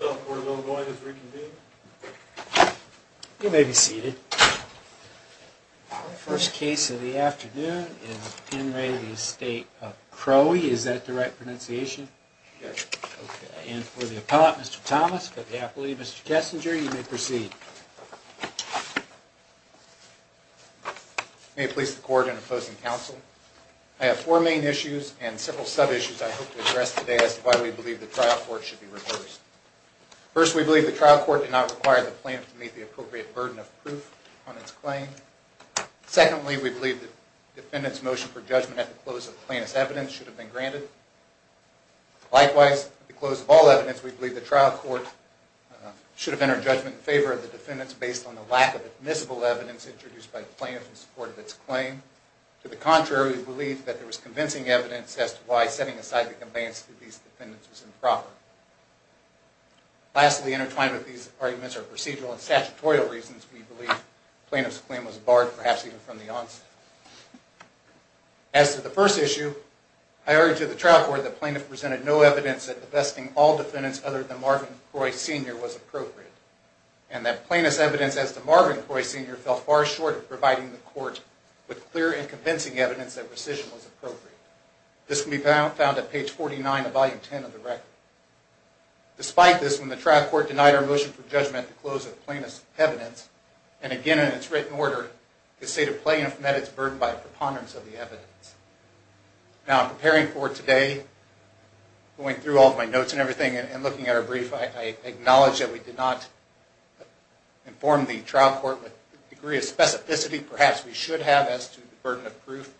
So we're going to reconvene. You may be seated. First case in the afternoon is in re Estate of Krohe. Is that the right pronunciation? And for the appellate Mr. Thomas, for the appellate Mr. Kessinger, you may proceed. May it please the court and opposing counsel. I have four main issues and several sub issues. I hope to address today as to why we believe the trial court should be reversed. First, we believe the trial court did not require the plaintiff to meet the appropriate burden of proof on its claim. Secondly, we believe the defendant's motion for judgment at the close of plaintiff's evidence should have been granted. Likewise, at the close of all evidence, we believe the trial court should have entered judgment in favor of the defendants based on the lack of admissible evidence introduced by the plaintiff in support of its claim. To the contrary, we believe that there was convincing evidence as to why setting aside the conveyance to these defendants was improper. Lastly, intertwined with these arguments are procedural and statutorial reasons. We believe plaintiff's claim was barred, perhaps even from the onset. As to the first issue, I urge to the trial court that plaintiff presented no evidence that divesting all defendants other than Marvin Croy Sr. was appropriate and that plaintiff's evidence as to Marvin Croy Sr. fell far short of providing the court with clear and convincing evidence that rescission was appropriate. This can be found at page 49 of volume 10 of the record. Despite this, when the trial court denied our motion for judgment at the close of plaintiff's evidence, and again in its written order, to say to plaintiff that it's burdened by preponderance of the evidence. Now, preparing for today, going through all of my notes and everything and looking at our brief, I acknowledge that we did not inform the trial court with the degree of specificity perhaps we should have as to the burden of proof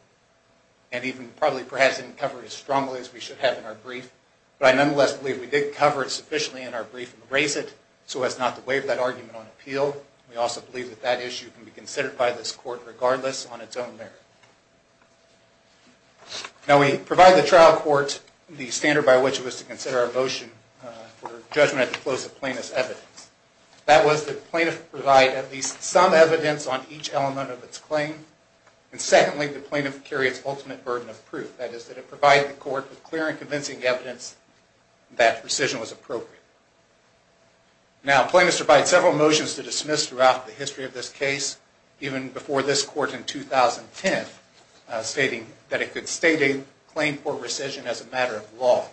and even probably perhaps didn't cover it as strongly as we should have in our brief. But I nonetheless believe we did cover it sufficiently in our brief and raise it so as not to waive that argument on appeal. We also believe that that issue can be considered by this court regardless on its own merit. Now we provide the trial court the standard by which it was to consider our motion for judgment at the close of plaintiff's evidence. That was that plaintiff provide at least some evidence on each element of its claim. And secondly, the plaintiff carry its ultimate burden of providing the court with clear and convincing evidence that rescission was appropriate. Now plaintiff has provided several motions to dismiss throughout the history of this case, even before this court in 2010 stating that it could state a claim for rescission as a matter of law.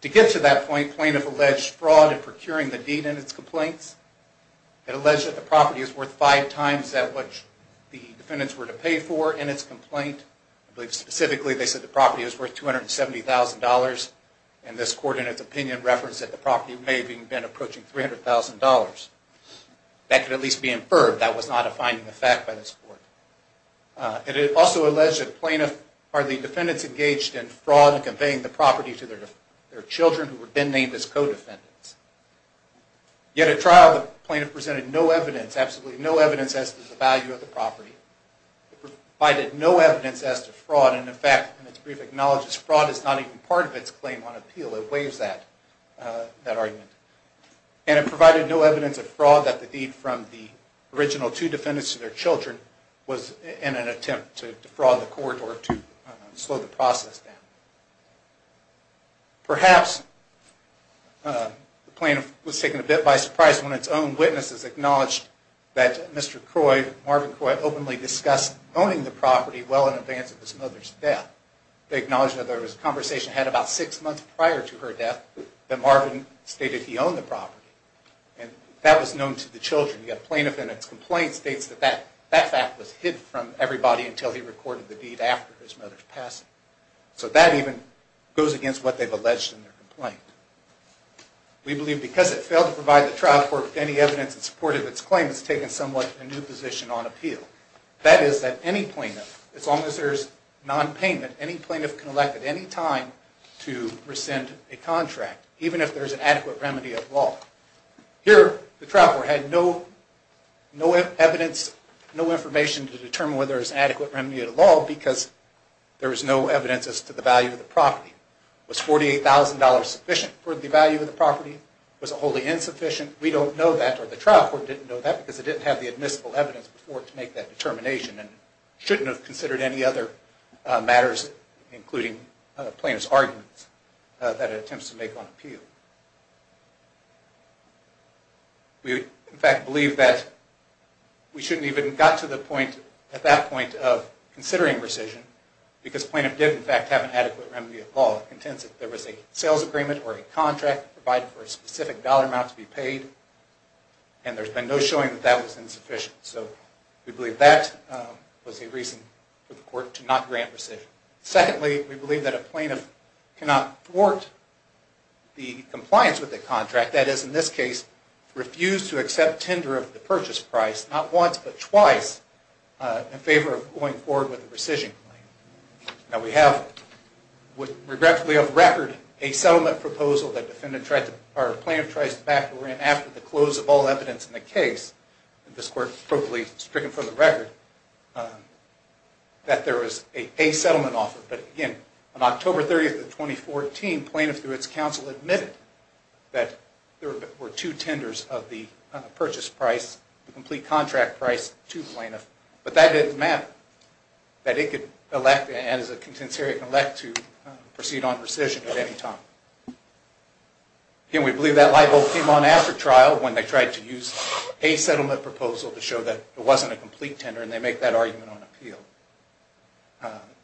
To get to that point, plaintiff alleged fraud in procuring the deed and its complaints. It alleged that the property is worth five times that which the defendants were to pay for in its complaint. I believe specifically they said the property is worth $270,000 and this court in its opinion referenced that the property may have been approaching $300,000. That could at least be inferred. That was not a finding of fact by this court. It also alleged that plaintiff are the defendants engaged in fraud and conveying the property to their children who were then named as co-defendants. Yet at trial, the plaintiff presented no evidence, absolutely no evidence as to the value of the property. It provided no evidence as to fraud and in fact in its brief acknowledges fraud is not even part of its claim on appeal. It waives that argument. And it provided no evidence of fraud that the deed from the original two defendants to their children was in an attempt to defraud the court or to slow the process down. Perhaps the plaintiff was taken a bit by surprise when its own witnesses acknowledged that Mr. Croy, Marvin Croy openly discussed owning the property well in advance of his mother's death. They acknowledged that there was a conversation had about six months prior to her death that Marvin stated he owned the property and that was known to the children. Yet plaintiff in its complaint states that that fact was hidden from everybody until he recorded the deed after his mother's passing. So that even goes against what they've alleged in their complaint. We believe because it failed to provide the trial court with any evidence in support of its claim, it's taken somewhat of a new position on appeal. That is that any plaintiff, as long as there's non-payment, any plaintiff can elect at any time to rescind a contract even if there's an adequate remedy of law. Here the trial court had no evidence, no information to determine whether there's adequate remedy of the law because there is no evidence as to the value of the property. Was $48,000 sufficient for the value of the property? Was it wholly insufficient? We don't know that or the trial court didn't know that because it didn't have the admissible evidence before to make that determination and shouldn't have considered any other matters including plaintiff's arguments that it attempts to make on appeal. We in fact believe that we shouldn't even got to the point at that point of considering rescission because plaintiff did in fact have an adequate remedy of law. It contends that there was a sales agreement or a contract provided for a specific dollar amount to be paid and there's been no showing that that was insufficient. So we believe that was a reason for the court to not grant rescission. Secondly, we believe that a plaintiff cannot thwart the compliance with the contract that is in this case refused to accept tender of the purchase price not once but twice in favor of going forward with the rescission claim. Now we have regretfully of record a settlement proposal that defendant tried to, or plaintiff tried to back case, this court appropriately stricken for the record, that there was a settlement offer. But again, on October 30th of 2014, plaintiff through its counsel admitted that there were two tenders of the purchase price, the complete contract price to plaintiff, but that didn't matter. That it could elect and as a contensarian elect to proceed on rescission at any time. Again, we believe that light bulb came on after trial when they tried to use a settlement proposal to show that it wasn't a complete tender and they make that argument on appeal.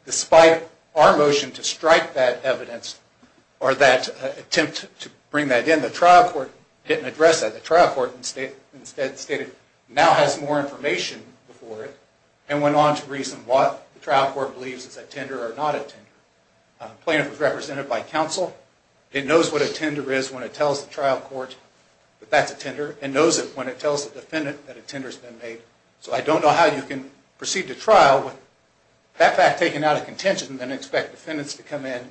Despite our motion to strike that evidence or that attempt to bring that in, the trial court didn't address that. The trial court instead stated now has more information before it and went on to reason what the trial court believes is a tender or not a tender. Plaintiff was represented by counsel. It knows what a that's a tender and knows it when it tells the defendant that a tender has been made. So I don't know how you can proceed to trial with that fact taken out of contention than expect defendants to come in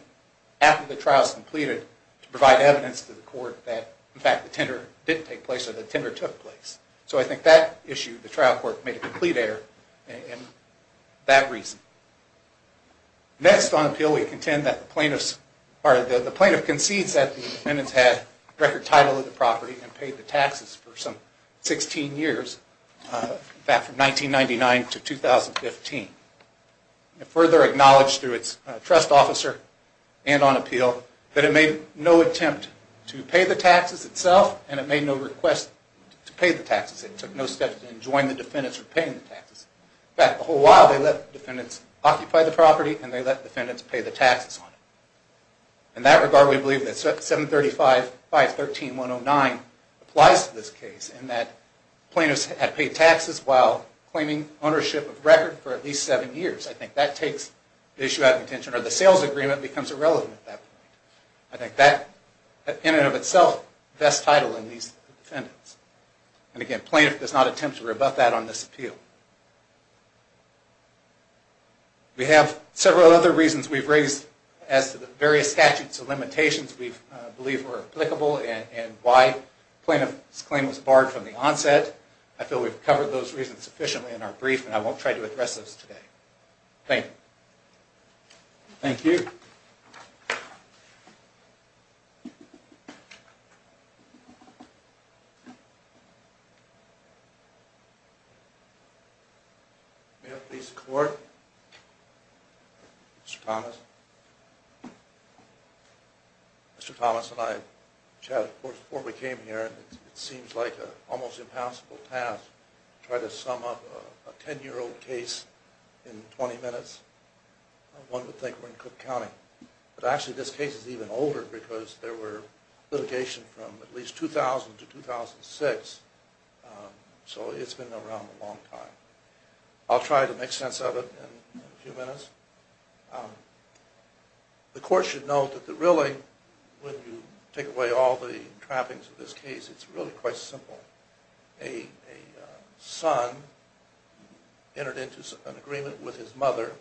after the trial is completed to provide evidence to the court that, in fact, the tender didn't take place or the tender took place. So I think that issue, the trial court made a complete error in that reason. Next on appeal, we contend that the plaintiff concedes that the defendants had record title of the property and paid the taxes for some 16 years back from 1999 to 2015. It further acknowledged through its trust officer and on appeal that it made no attempt to pay the taxes itself and it made no request to pay the taxes. It took no steps to join the defendants for paying the taxes. In fact, the whole while they let defendants occupy the property and they let defendants pay the taxes on it. In that regard, we believe that Article 19.109 applies to this case and that plaintiffs had paid taxes while claiming ownership of record for at least 7 years. I think that takes the issue out of contention or the sales agreement becomes irrelevant at that point. I think that in and of itself best title in these defendants. And again, plaintiff does not attempt to rebut that on this appeal. We have several other reasons we've raised as to the various statutes of limitations we believe were applicable and why plaintiff's claim was barred from the onset. I feel we've covered those reasons sufficiently in our brief and I won't try to address those today. Thank you. Thank you. Mr. Thomas and I chatted before we came here. It seems like an almost impossible task to try to sum up a case like the one in Cook County. But actually this case is even older because there were litigation from at least 2000 to 2006. So it's been around a long time. I'll try to make sense of it in a few minutes. The court should know that really when you take away all the trappings of this case, it's really quite simple. A son entered into an agreement with his five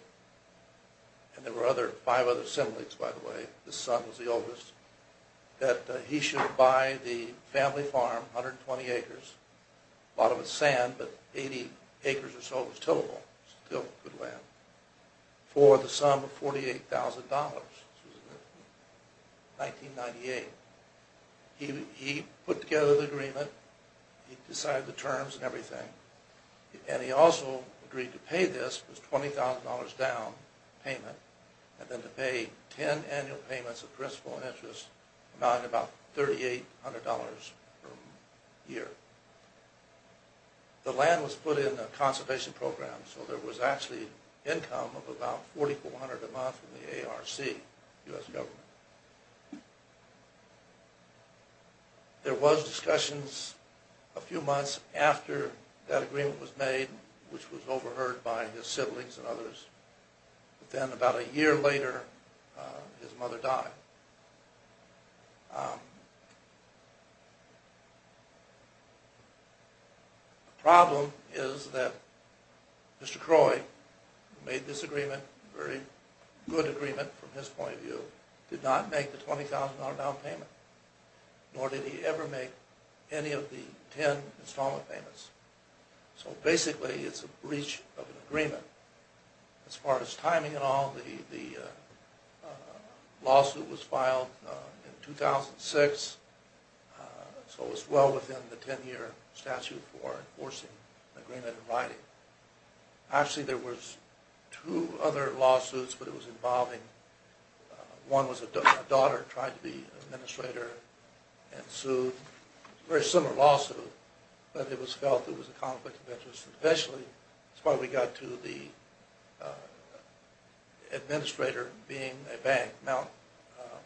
other siblings, by the way, the son was the oldest, that he should buy the family farm, 120 acres, a lot of it sand, but 80 acres or so was tillable, still good land, for the sum of $48,000. 1998. He put together the agreement. He decided the terms and everything. And he also agreed to pay this $20,000 down payment and then to pay 10 annual payments of principal interest amounting to about $3,800 per year. The land was put in a conservation program. So there was actually income of about $4,400 a month from the ARC, U.S. government. There was discussions a few months after that agreement was made, which was overheard by his siblings and others. But then about a year later, his mother died. The problem is that Mr. Croy, who made this agreement, a very good agreement from his point of view, did not make the $20,000 down payment, nor did he ever make any of the 10 installment payments. So basically it's a breach of an agreement. As far as timing and all, the lawsuit was filed in 2006. So it was well within the 10-year statute for enforcing the agreement in writing. Actually, there were two other lawsuits, but it was involving, one was a daughter trying to be an administrator and sued. It was a very similar lawsuit, but it was felt it was a conflict of interest. Eventually, that's why we got to the administrator being a bank, the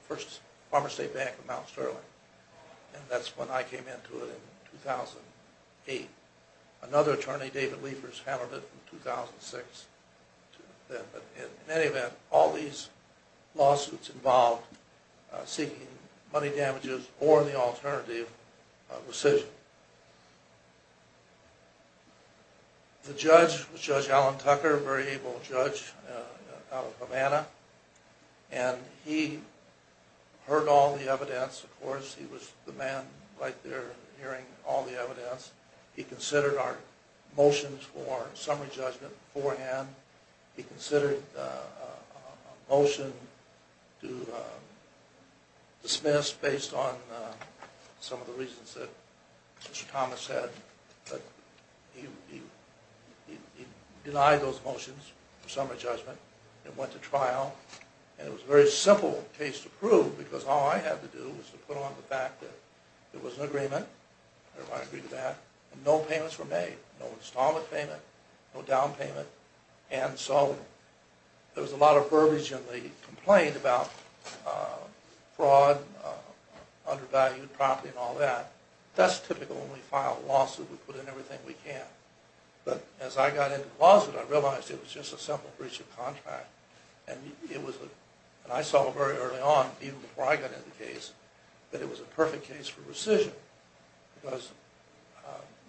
first pharmaceutical bank of Mount Sterling. And that's when I came into it in 2008. Another attorney, David Liefers, handled it in 2006. But in any lawsuits involved seeking money damages or the alternative, recision. The judge was Judge Alan Tucker, a very able judge out of Havana. And he heard all the evidence, of course. He was the man right there hearing all the evidence. He considered our motions for summary judgment beforehand. He considered a motion to dismiss based on some of the reasons that Mr. Thomas said. But he denied those motions for summary judgment and went to trial. And it was a very simple case to prove because all I had to do was to put on the fact that there was an agreement, and I agreed to that, and no payments were made. No installment payment, no down payment. And so there was a lot of verbiage in the complaint about fraud, undervalued property and all that. That's typical when we file a lawsuit, we put in everything we can. But as I got into the lawsuit, I realized it was just a simple breach of contract. And it was, and I saw it very early on, even before I got into the case, that it was a perfect case for recision. Because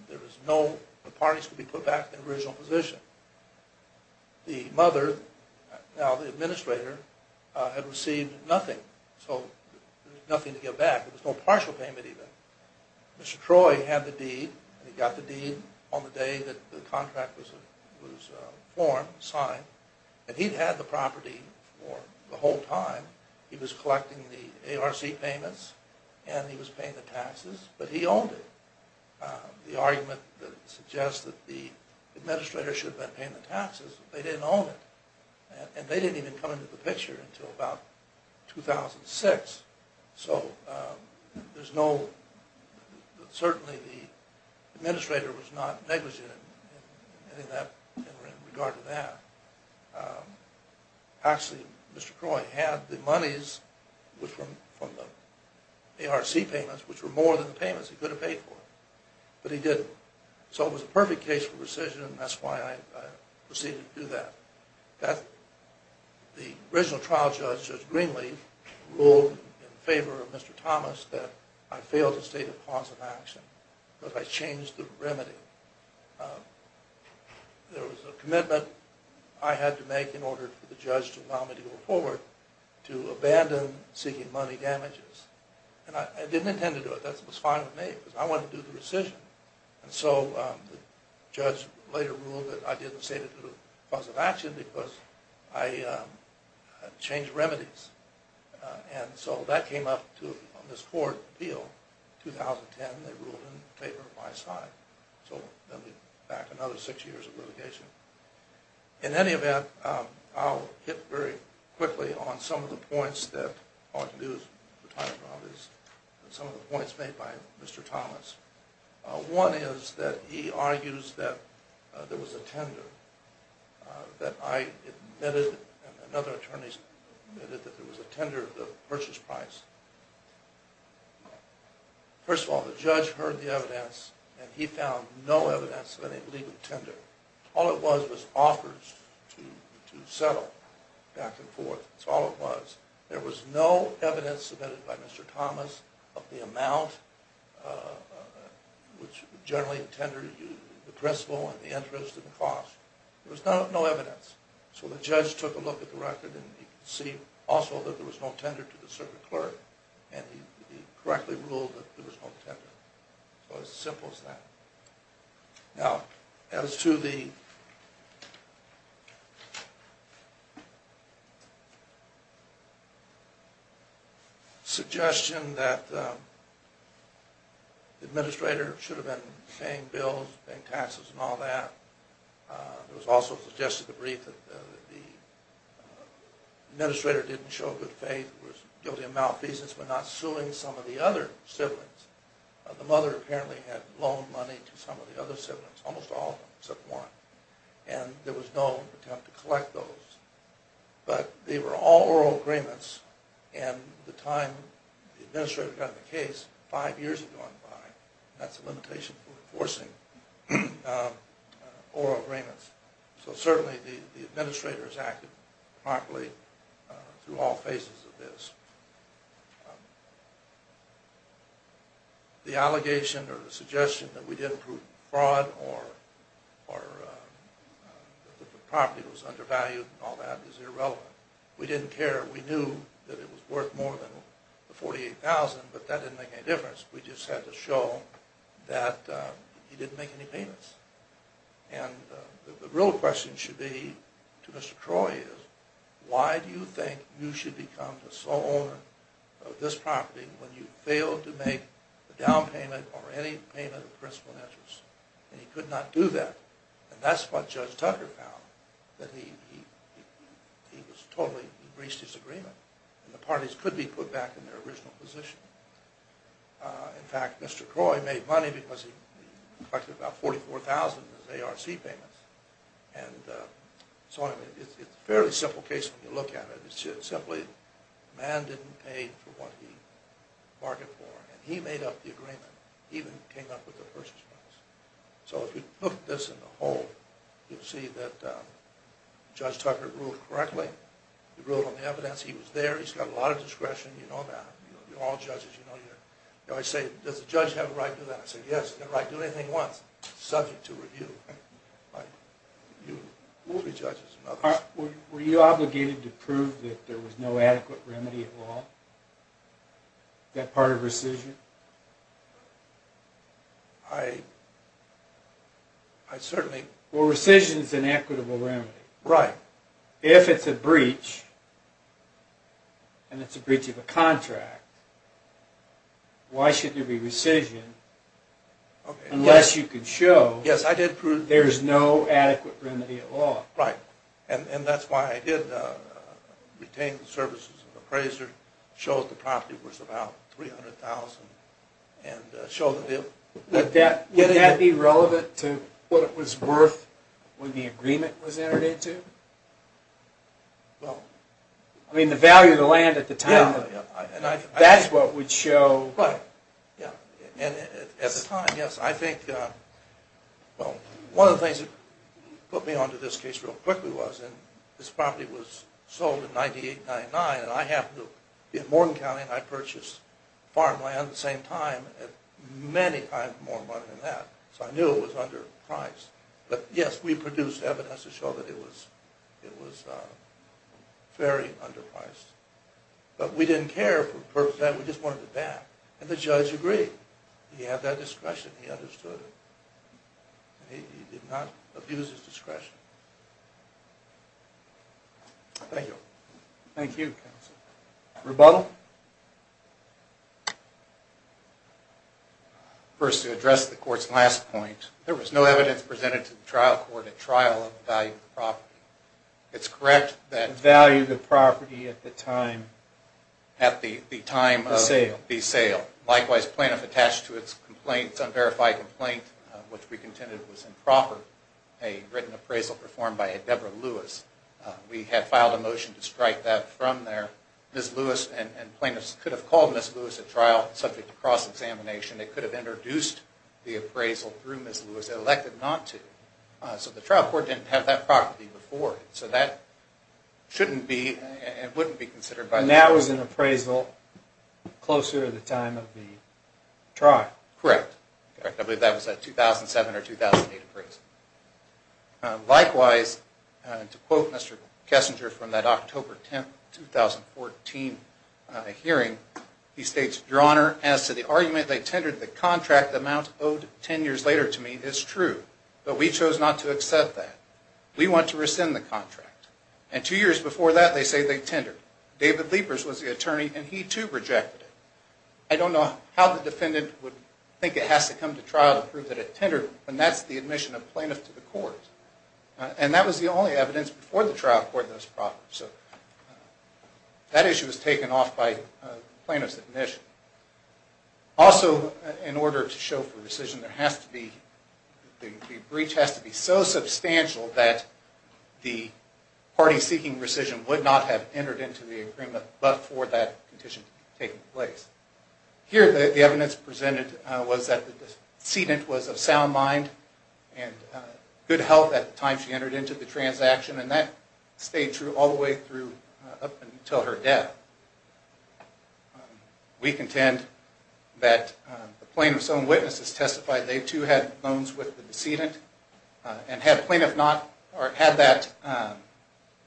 there was no, the parties could be put back to the original position. The mother, now the administrator, had received nothing. So there was nothing to give back. There was no partial payment even. Mr. Troy had the deed, and he got the deed on the day that the contract was formed, signed. And he'd had the property for the whole time. He was collecting the ARC payments, and he was paying the taxes, but he owned it. The argument that suggests that the administrator should have been paying the taxes, they didn't own it. And they didn't even come into the picture until about 2006. So there's no, certainly the administrator was not negligent in that, in regard to that. Actually, Mr. Troy had the monies from the ARC payments, which were more than the payments he could have paid for. But he didn't. So it was a perfect case for recision, and that's why I proceeded to do that. The original trial judge, Judge Greenlee, ruled in favor of Mr. Thomas that I failed to state a cause of action, because I changed the remedy. There was a commitment I had to make in order for the judge to allow me to go forward to abandon seeking money damages. And I didn't want to do the recision. And so the judge later ruled that I didn't say that it was a cause of action, because I changed remedies. And so that came up on this court appeal in 2010. They ruled in favor of my side. So that would be back another six years of litigation. In any event, I'll hit very quickly on some of the points that ought to be made by Mr. Thomas. One is that he argues that there was a tender that I admitted, and other attorneys admitted, that there was a tender of the purchase price. First of all, the judge heard the evidence, and he found no evidence of any legal tender. All it was was offers to settle back and was, there was no evidence submitted by Mr. Thomas of the amount, which generally a tender, the principle and the interest and the cost. There was no evidence. So the judge took a look at the record, and he could see also that there was no tender to the circuit clerk. And he correctly ruled that there was no tender. So it's as simple as that. Now, as to the suggestion that the administrator should have been paying bills and taxes and all that. It was also suggested the brief that the administrator didn't show good faith, was guilty of malfeasance, but not suing some of the other siblings. The mother apparently had loaned money to some of the other siblings, almost all of them, except one. And there was no attempt to collect those. But they were all oral agreements. And the time the administrator got the case, five years had gone by. That's a limitation for enforcing oral agreements. So certainly the administrator has acted properly through all phases of this. The allegation or the suggestion that we didn't prove fraud or that the property was undervalued and all that is irrelevant. We didn't care. We knew that it was worth more than the $48,000, but that didn't make any difference. We just had to show that he didn't make any payments. And the real question should be to Mr. Troy is, why do you think you should become the sole owner of this property when you failed to make a down payment or any payment of principal and interest? And he could not do that. And that's what Judge Tucker found, that he totally breached his agreement. And the parties could be put back in their original position. In fact, Mr. Troy made money because he collected about $44,000 in his ARC payments. And so it's a fairly simple case when you look at it. It's simply the man didn't pay for what he bargained for. And he made up the agreement. He even came up with the purchase notice. So if you look at this in the whole, you'll see that Judge Tucker ruled correctly. He ruled on the evidence. He was there. He's got a lot of discretion. You know that. You're all judges. You know your... You know, I say, does the judge have a right to do that? I say, yes, you have a right to do anything he wants. It's subject to review by you, three judges, and others. Were you obligated to prove that there was no that part of rescission? I certainly... Well, rescission is an equitable remedy. Right. If it's a breach, and it's a breach of a contract, why should there be rescission unless you can show there's no adequate remedy at law? Right. And that's why I did retain the services of an appraiser, showed the property was about $300,000, and showed that... Would that be relevant to what it was worth when the agreement was entered into? Well... I mean, the value of the land at the time, that's what would show... Right. Yeah. And at the time, yes, I think... Well, one of the things that put me onto this case real quickly was, and this property was $9,899, and I happened to... In Morton County, I purchased farmland at the same time at many times more money than that, so I knew it was underpriced. But yes, we produced evidence to show that it was very underpriced. But we didn't care for the purpose of that. We just wanted it back. And the judge agreed. He had that discretion. He understood it. He did not abuse his discretion. Thank you. Thank you, counsel. Rebuttal? First, to address the Court's last point, there was no evidence presented to the trial court at trial of the value of the property. It's correct that... The value of the property at the time... At the time of... The sale. The sale. Likewise, plaintiff attached to its complaint, its unverified complaint, which we contended was improper, a written appraisal, performed by a Deborah Lewis. We had filed a motion to strike that from there. Ms. Lewis and plaintiffs could have called Ms. Lewis at trial subject to cross-examination. They could have introduced the appraisal through Ms. Lewis, elected not to. So the trial court didn't have that property before, so that shouldn't be and wouldn't be considered by... And that was an appraisal closer to the time of the trial. Correct. I believe that was a 2007 or 2008 appraisal. Likewise, to quote Mr. Kessinger from that October 10, 2014 hearing, he states, Your Honor, as to the argument they tendered the contract amount owed 10 years later to me is true, but we chose not to accept that. We want to rescind the contract. And two years before that, they say they tendered. David Leepers was the attorney, and he too rejected it. I don't know how the defendant would think it has to come to trial to prove that it tendered when that's the admission of plaintiff to the court. And that was the only evidence before the trial court that was proper. So that issue was taken off by plaintiff's admission. Also, in order to show for rescission, there has to be... The breach has to be so substantial that the party seeking rescission would not have entered into the agreement but for that condition to take place. Here, the evidence presented was that the and good health at the time she entered into the transaction, and that stayed true all the way through up until her death. We contend that the plaintiff's own witnesses testified they too had loans with the decedent and had plaintiff not, or had that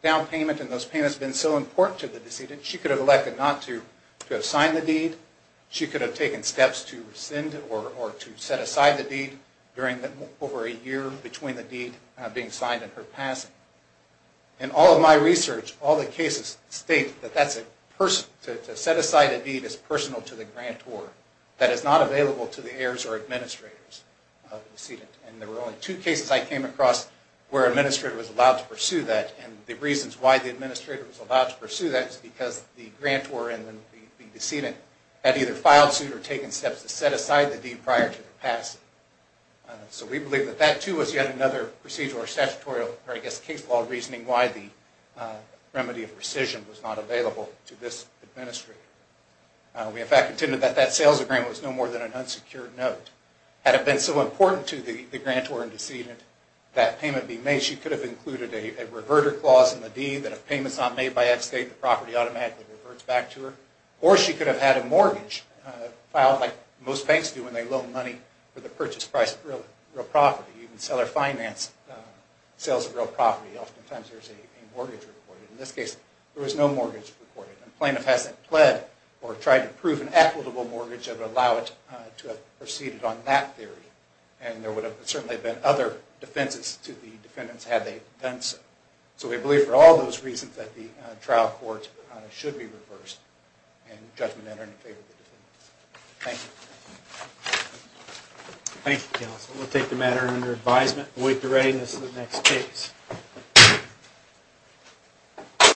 down payment and those payments been so important to the decedent, she could have elected not to have signed the deed. She could have taken steps to rescind or to set aside the deed during over a year between the deed being signed and her passing. In all of my research, all the cases state that that's a person... To set aside a deed is personal to the grantor that is not available to the heirs or administrators of the decedent. And there were only two cases I came across where an administrator was allowed to pursue that, and the reasons why the administrator was allowed to pursue that is because the grantor and the decedent had either filed suit or taken steps to set aside the deed prior to their passing. So we believe that that too was yet another procedural or statutory or I guess case law reasoning why the remedy of rescission was not available to this administrator. We in fact contend that that sales agreement was no more than an unsecured note. Had it been so important to the grantor and decedent that payment be made, she could have included a reverter clause in the deed that if payment is not made by X date, the property automatically reverts back to her. Or she could have had a mortgage filed like most banks do when they loan money for the purchase price of real property. You can sell or finance sales of real property. Oftentimes there's a mortgage reported. In this case, there was no mortgage reported. And the plaintiff hasn't pled or tried to prove an equitable mortgage that would allow it to have proceeded on that theory. And there would have certainly been other defenses to the defendants had they done so. trial court should be reversed and judgment entered in favor of the defendants. Thank you. Thank you counsel. We'll take the matter under advisement. Await the readiness of the next case.